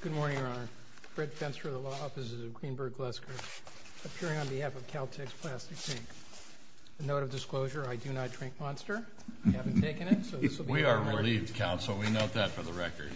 Good morning, Your Honor. Fred Fenster of the Law Offices of Greenberg Glesker, appearing on behalf of Caltex Plastics, Inc. A note of disclosure, I do not drink Monster. I haven't taken it. We are relieved, Counsel. We note that for the record.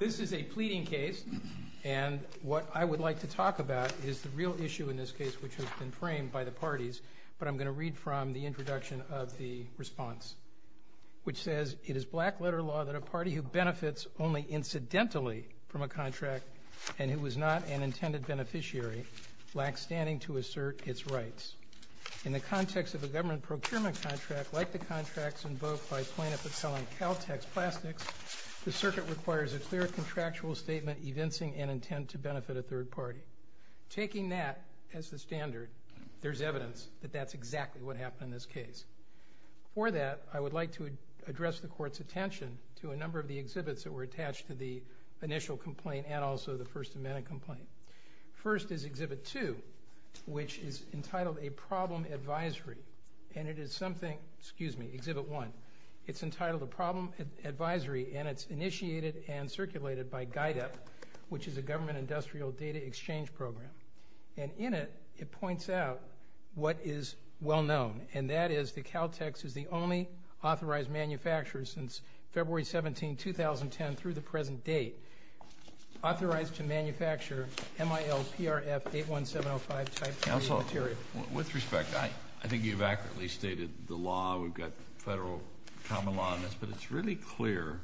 This is a pleading case, and what I would like to talk about is the real issue in this case, which has been framed by the parties, but I'm going to read from the introduction of the response, which says, It is black-letter law that a party who benefits only incidentally from a contract and who is not an intended beneficiary, lacks standing to assert its rights. In the context of a government procurement contract, like the contracts invoked by plaintiffs selling Caltex Plastics, the circuit requires a clear contractual statement evincing an intent to benefit a third party. Taking that as the standard, there's evidence that that's exactly what happened in this case. For that, I would like to address the Court's attention to a number of the exhibits that were attached to the initial complaint and also the First Amendment complaint. First is Exhibit 2, which is entitled A Problem Advisory, and it is something, excuse me, Exhibit 1. It's entitled A Problem Advisory, and it's initiated and circulated by GIDEP, which is a government industrial data exchange program. And in it, it points out what is well-known, and that is that Caltex is the only authorized manufacturer since February 17, 2010 through the present date authorized to manufacture MIL-PRF-81705 type 3 material. Counsel, with respect, I think you've accurately stated the law. We've got federal common law on this, but it's really clear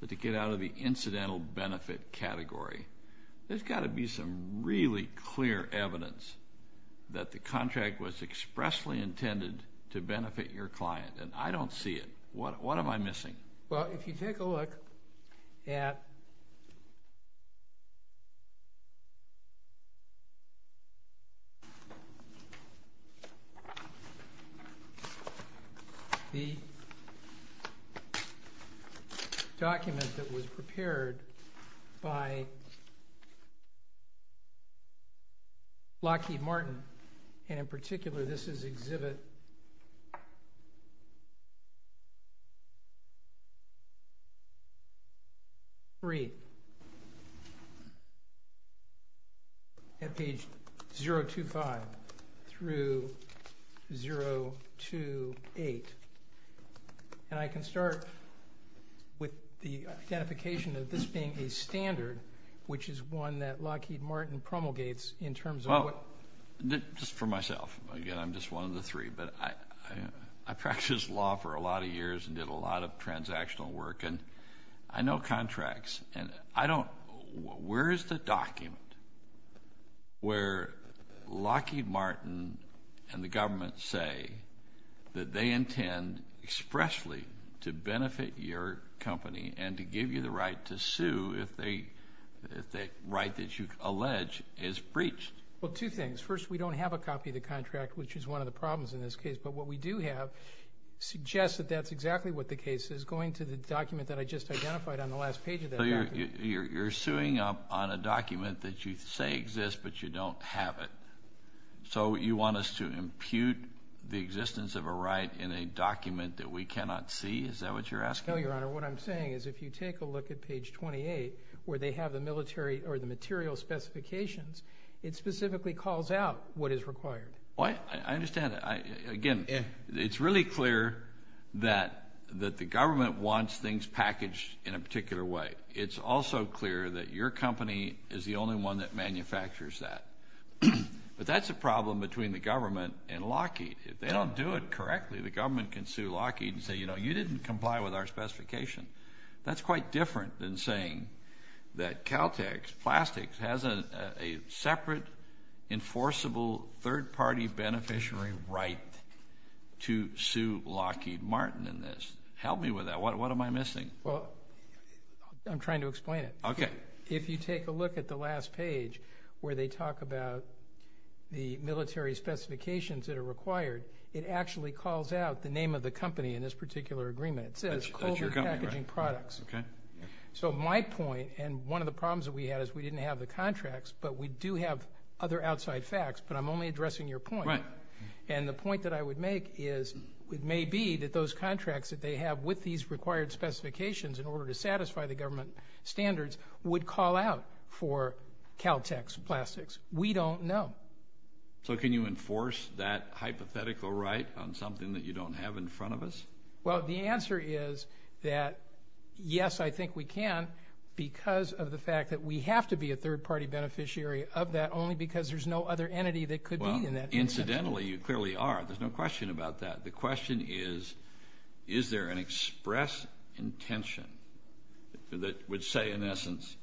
that to get out of the incidental benefit category, there's got to be some really clear evidence that the contract was expressly intended to benefit your client, and I don't see it. What am I missing? Well, if you take a look at the document that was prepared by Lockheed Martin, and in particular, this is Exhibit 3 at page 025 through 028, and I can start with the identification of this being a standard, which is one that Lockheed Martin promulgates in terms of what – Just for myself, again, I'm just one of the three, but I practiced law for a lot of years and did a lot of transactional work, and I know contracts, and I don't – where is the document where Lockheed Martin and the government say that they intend expressly to benefit your company and to give you the right to sue if the right that you allege is breached? Well, two things. First, we don't have a copy of the contract, which is one of the problems in this case, but what we do have suggests that that's exactly what the case is. Going to the document that I just identified on the last page of that document. So you're suing up on a document that you say exists, but you don't have it. So you want us to impute the existence of a right in a document that we cannot see? Is that what you're asking? No, Your Honor. What I'm saying is if you take a look at page 28 where they have the military or the material specifications, it specifically calls out what is required. I understand. Again, it's really clear that the government wants things packaged in a particular way. It's also clear that your company is the only one that manufactures that. But that's a problem between the government and Lockheed. If they don't do it correctly, the government can sue Lockheed and say, you know, you didn't comply with our specification. That's quite different than saying that Caltech, Plastics, has a separate enforceable third-party beneficiary right to sue Lockheed Martin in this. Help me with that. What am I missing? Well, I'm trying to explain it. Okay. If you take a look at the last page where they talk about the military specifications that are required, it actually calls out the name of the company in this particular agreement. It says cold packaging products. Okay. So my point, and one of the problems that we had is we didn't have the contracts, but we do have other outside facts, but I'm only addressing your point. Right. And the point that I would make is it may be that those contracts that they have with these required specifications in order to satisfy the government standards would call out for Caltech's plastics. We don't know. So can you enforce that hypothetical right on something that you don't have in front of us? Well, the answer is that yes, I think we can, because of the fact that we have to be a third-party beneficiary of that only because there's no other entity that could be in that. Well, incidentally, you clearly are. There's no question about that. The question is, is there an express intention that would say, in essence,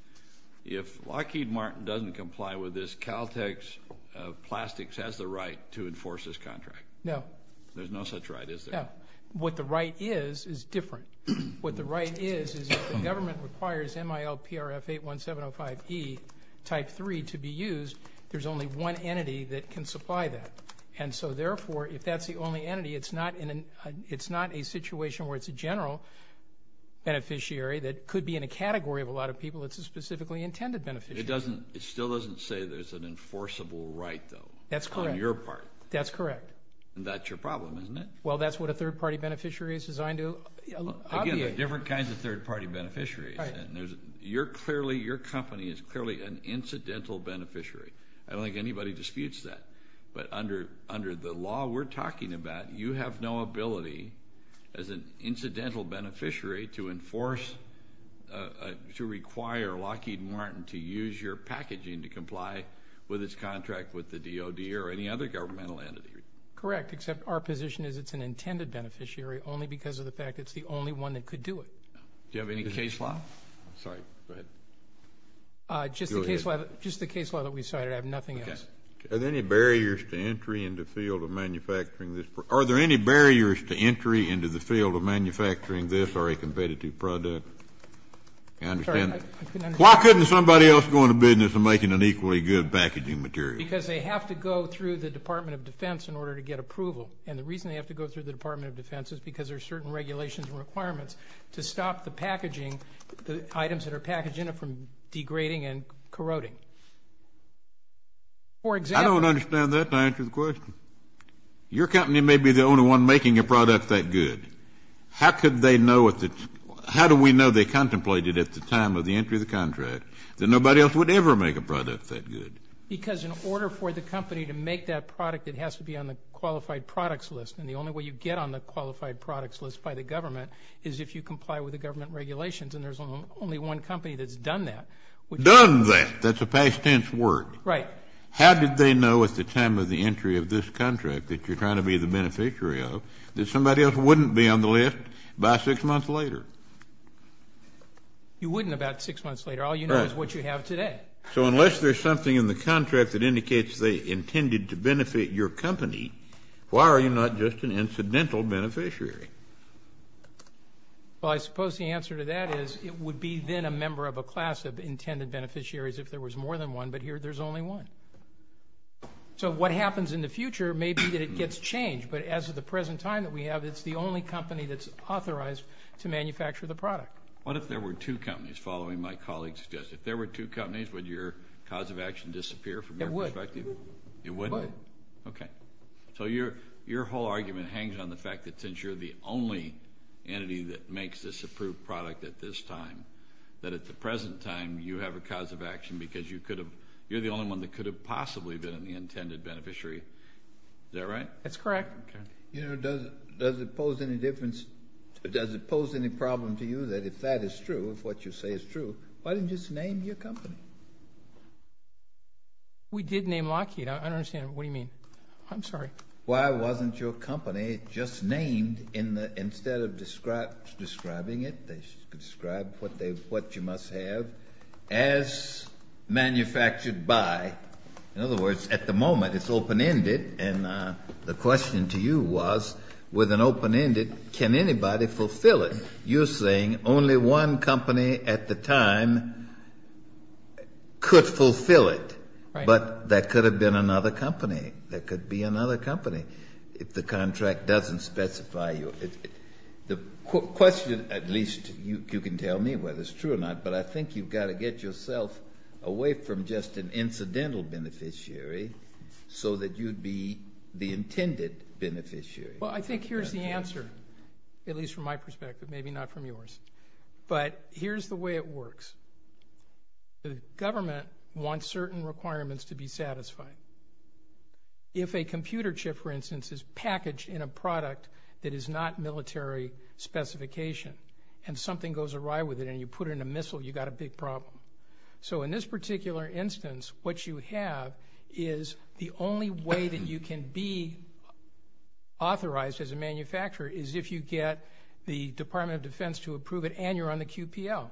if Lockheed Martin doesn't comply with this, Caltech's plastics has the right to enforce this contract? No. There's no such right, is there? No. What the right is is different. What the right is is if the government requires MIL-PRF-81705E Type 3 to be used, there's only one entity that can supply that. And so, therefore, if that's the only entity, it's not a situation where it's a general beneficiary that could be in a category of a lot of people. It's a specifically intended beneficiary. It still doesn't say there's an enforceable right, though. That's correct. On your part. That's correct. And that's your problem, isn't it? Well, that's what a third-party beneficiary is designed to obviate. Again, there are different kinds of third-party beneficiaries. Your company is clearly an incidental beneficiary. I don't think anybody disputes that. But under the law we're talking about, you have no ability as an incidental beneficiary to enforce, to require Lockheed Martin to use your packaging to comply with its contract with the DOD or any other governmental entity. Correct, except our position is it's an intended beneficiary only because of the fact it's the only one that could do it. Do you have any case law? Sorry, go ahead. Just the case law that we cited. I have nothing else. Are there any barriers to entry into the field of manufacturing this? Are there any barriers to entry into the field of manufacturing this or a competitive product? I understand. Why couldn't somebody else go into business and making an equally good packaging material? Because they have to go through the Department of Defense in order to get approval. And the reason they have to go through the Department of Defense is because there are certain regulations and requirements to stop the packaging, the items that are packaged in it from degrading and corroding. For example. I don't understand that to answer the question. Your company may be the only one making a product that good. How could they know if it's, how do we know they contemplated at the time of the entry of the contract that nobody else would ever make a product that good? Because in order for the company to make that product, it has to be on the qualified products list. And the only way you get on the qualified products list by the government is if you comply with the government regulations. And there's only one company that's done that. Done that. That's a past tense word. Right. How did they know at the time of the entry of this contract that you're trying to be the beneficiary of, that somebody else wouldn't be on the list by six months later? You wouldn't about six months later. All you know is what you have today. So unless there's something in the contract that indicates they intended to benefit your company, why are you not just an incidental beneficiary? Well, I suppose the answer to that is it would be then a member of a class of intended beneficiaries if there was more than one, but here there's only one. So what happens in the future may be that it gets changed. But as of the present time that we have, it's the only company that's authorized to manufacture the product. What if there were two companies, following my colleague's suggestion? If there were two companies, would your cause of action disappear from your perspective? It would. It would? It would. Okay. So your whole argument hangs on the fact that since you're the only entity that makes this approved product at this time, that at the present time you have a cause of action because you're the only one that could have possibly been an intended beneficiary. Is that right? That's correct. Okay. Does it pose any problem to you that if that is true, if what you say is true, why didn't you just name your company? We did name Lockheed. I don't understand. What do you mean? I'm sorry. Why wasn't your company just named instead of describing it? They described what you must have as manufactured by. In other words, at the moment it's open-ended, and the question to you was, with an open-ended, can anybody fulfill it? You're saying only one company at the time could fulfill it. Right. But that could have been another company. That could be another company if the contract doesn't specify you. The question, at least you can tell me whether it's true or not, but I think you've got to get yourself away from just an incidental beneficiary so that you'd be the intended beneficiary. Well, I think here's the answer, at least from my perspective, maybe not from yours. But here's the way it works. The government wants certain requirements to be satisfied. If a computer chip, for instance, is packaged in a product that is not military specification and something goes awry with it and you put it in a missile, you've got a big problem. So in this particular instance, what you have is the only way that you can be authorized as a manufacturer is if you get the Department of Defense to approve it and you're on the QPL.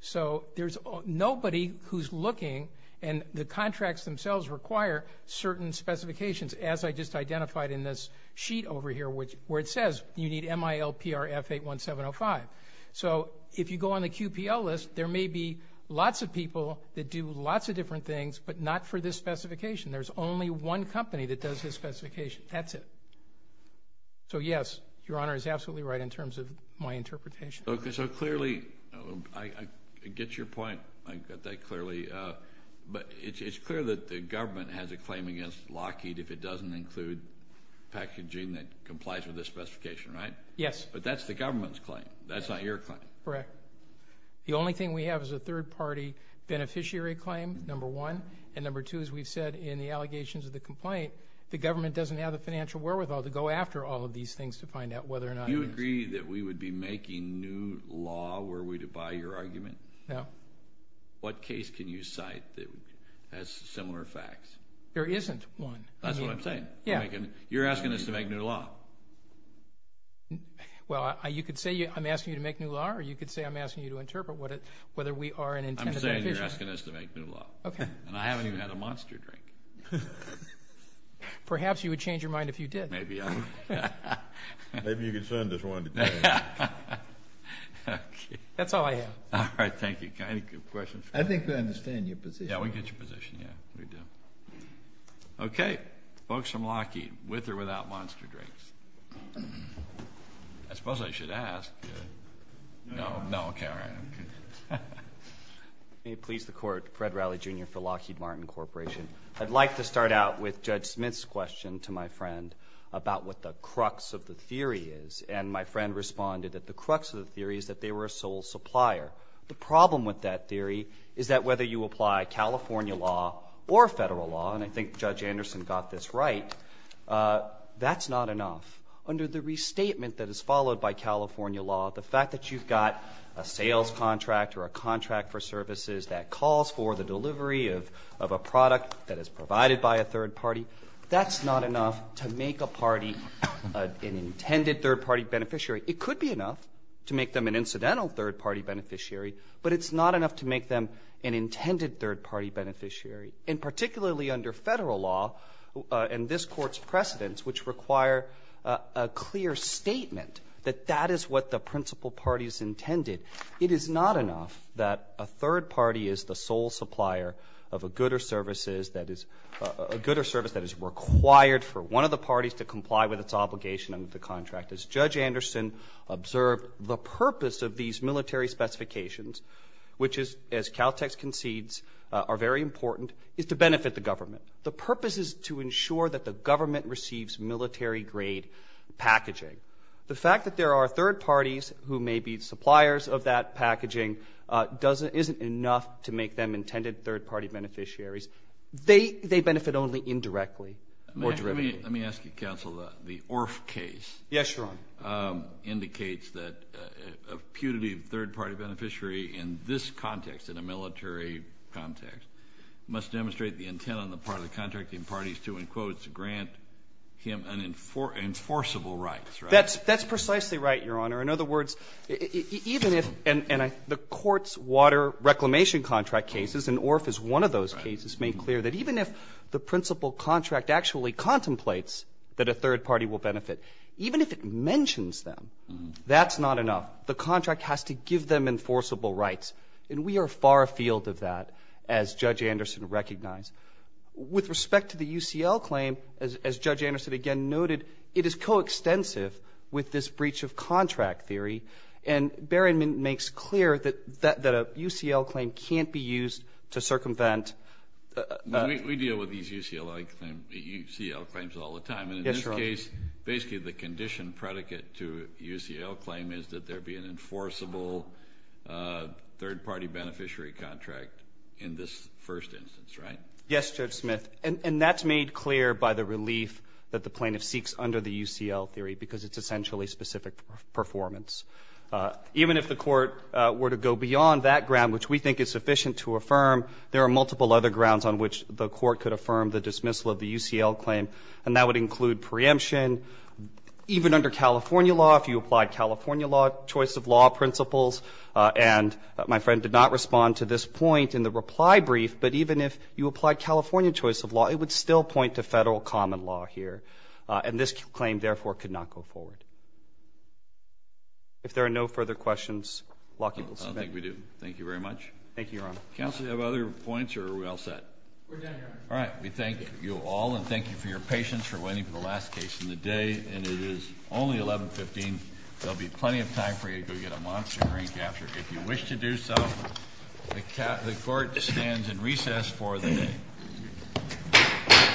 So there's nobody who's looking, and the contracts themselves require certain specifications, as I just identified in this sheet over here where it says you need MILPR F81705. So if you go on the QPL list, there may be lots of people that do lots of different things, but not for this specification. There's only one company that does this specification. That's it. So, yes, Your Honor is absolutely right in terms of my interpretation. So clearly, I get your point. I got that clearly. But it's clear that the government has a claim against Lockheed if it doesn't include packaging that complies with this specification, right? Yes. But that's the government's claim. That's not your claim. Correct. The only thing we have is a third-party beneficiary claim, number one. And number two, as we've said in the allegations of the complaint, the government doesn't have the financial wherewithal to go after all of these things to find out whether or not it is. Do you agree that we would be making new law were we to buy your argument? No. What case can you cite that has similar facts? There isn't one. That's what I'm saying. You're asking us to make new law. Well, you could say I'm asking you to make new law, or you could say I'm asking you to interpret whether we are an intended beneficiary. I'm saying you're asking us to make new law. Okay. And I haven't even had a monster drink. Perhaps you would change your mind if you did. Maybe I would. Maybe you could send us one today. That's all I have. All right. Thank you. Any questions? I think we understand your position. Yeah, we get your position. Yeah, we do. Okay. Folks from Lockheed, with or without monster drinks? I suppose I should ask. No. No. Okay. All right. May it please the Court, Fred Riley, Jr. for Lockheed Martin Corporation. I'd like to start out with Judge Smith's question to my friend about what the crux of the theory is. And my friend responded that the crux of the theory is that they were a sole supplier. The problem with that theory is that whether you apply California law or federal law, and I think Judge Anderson got this right, that's not enough. Under the restatement that is followed by California law, the fact that you've got a sales contract or a contract for services that calls for the delivery of a product that is provided by a third party, that's not enough to make a party an intended third-party beneficiary. It could be enough to make them an incidental third-party beneficiary, but it's not enough to make them an intended third-party beneficiary. And particularly under federal law and this Court's precedents, which require a clear statement that that is what the principal party is intended, it is not enough that a third party is the sole supplier of a good or service that is required for one of the parties to comply with its obligation under the contract. As Judge Anderson observed, the purpose of these military specifications, which is, as Caltex concedes, are very important, is to benefit the government. The purpose is to ensure that the government receives military-grade packaging. The fact that there are third parties who may be suppliers of that packaging isn't enough to make them intended third-party beneficiaries. They benefit only indirectly or directly. Let me ask you, counsel, the ORF case indicates that a putative third-party beneficiary in this context, in a military context, must demonstrate the intent on the part of the contracting parties to, in quotes, grant him enforceable rights, right? That's precisely right, Your Honor. In other words, even if the Court's water reclamation contract cases, and ORF is one of those cases, made clear that even if the principal contract actually contemplates that a third party will benefit, even if it mentions them, that's not enough. The contract has to give them enforceable rights. And we are far afield of that, as Judge Anderson recognized. With respect to the UCL claim, as Judge Anderson again noted, it is coextensive with this breach of contract theory. And Barron makes clear that a UCL claim can't be used to circumvent. We deal with these UCL claims all the time. And in this case, basically the condition predicate to a UCL claim is that there is a third party beneficiary contract in this first instance, right? Yes, Judge Smith. And that's made clear by the relief that the plaintiff seeks under the UCL theory because it's essentially specific performance. Even if the Court were to go beyond that ground, which we think is sufficient to affirm, there are multiple other grounds on which the Court could affirm the dismissal of the UCL claim, and that would include preemption. Even under California law, if you applied California law choice of law principles and my friend did not respond to this point in the reply brief, but even if you applied California choice of law, it would still point to Federal common law here. And this claim, therefore, could not go forward. If there are no further questions, Law People's Committee. I don't think we do. Thank you very much. Thank you, Your Honor. Counsel, do you have other points or are we all set? We're done, Your Honor. All right. We thank you all, and thank you for your patience, for waiting for the last case in the day. And it is only 1115. There will be plenty of time for you to go get a monster brain capture. If you wish to do so, the Court stands in recess for the day.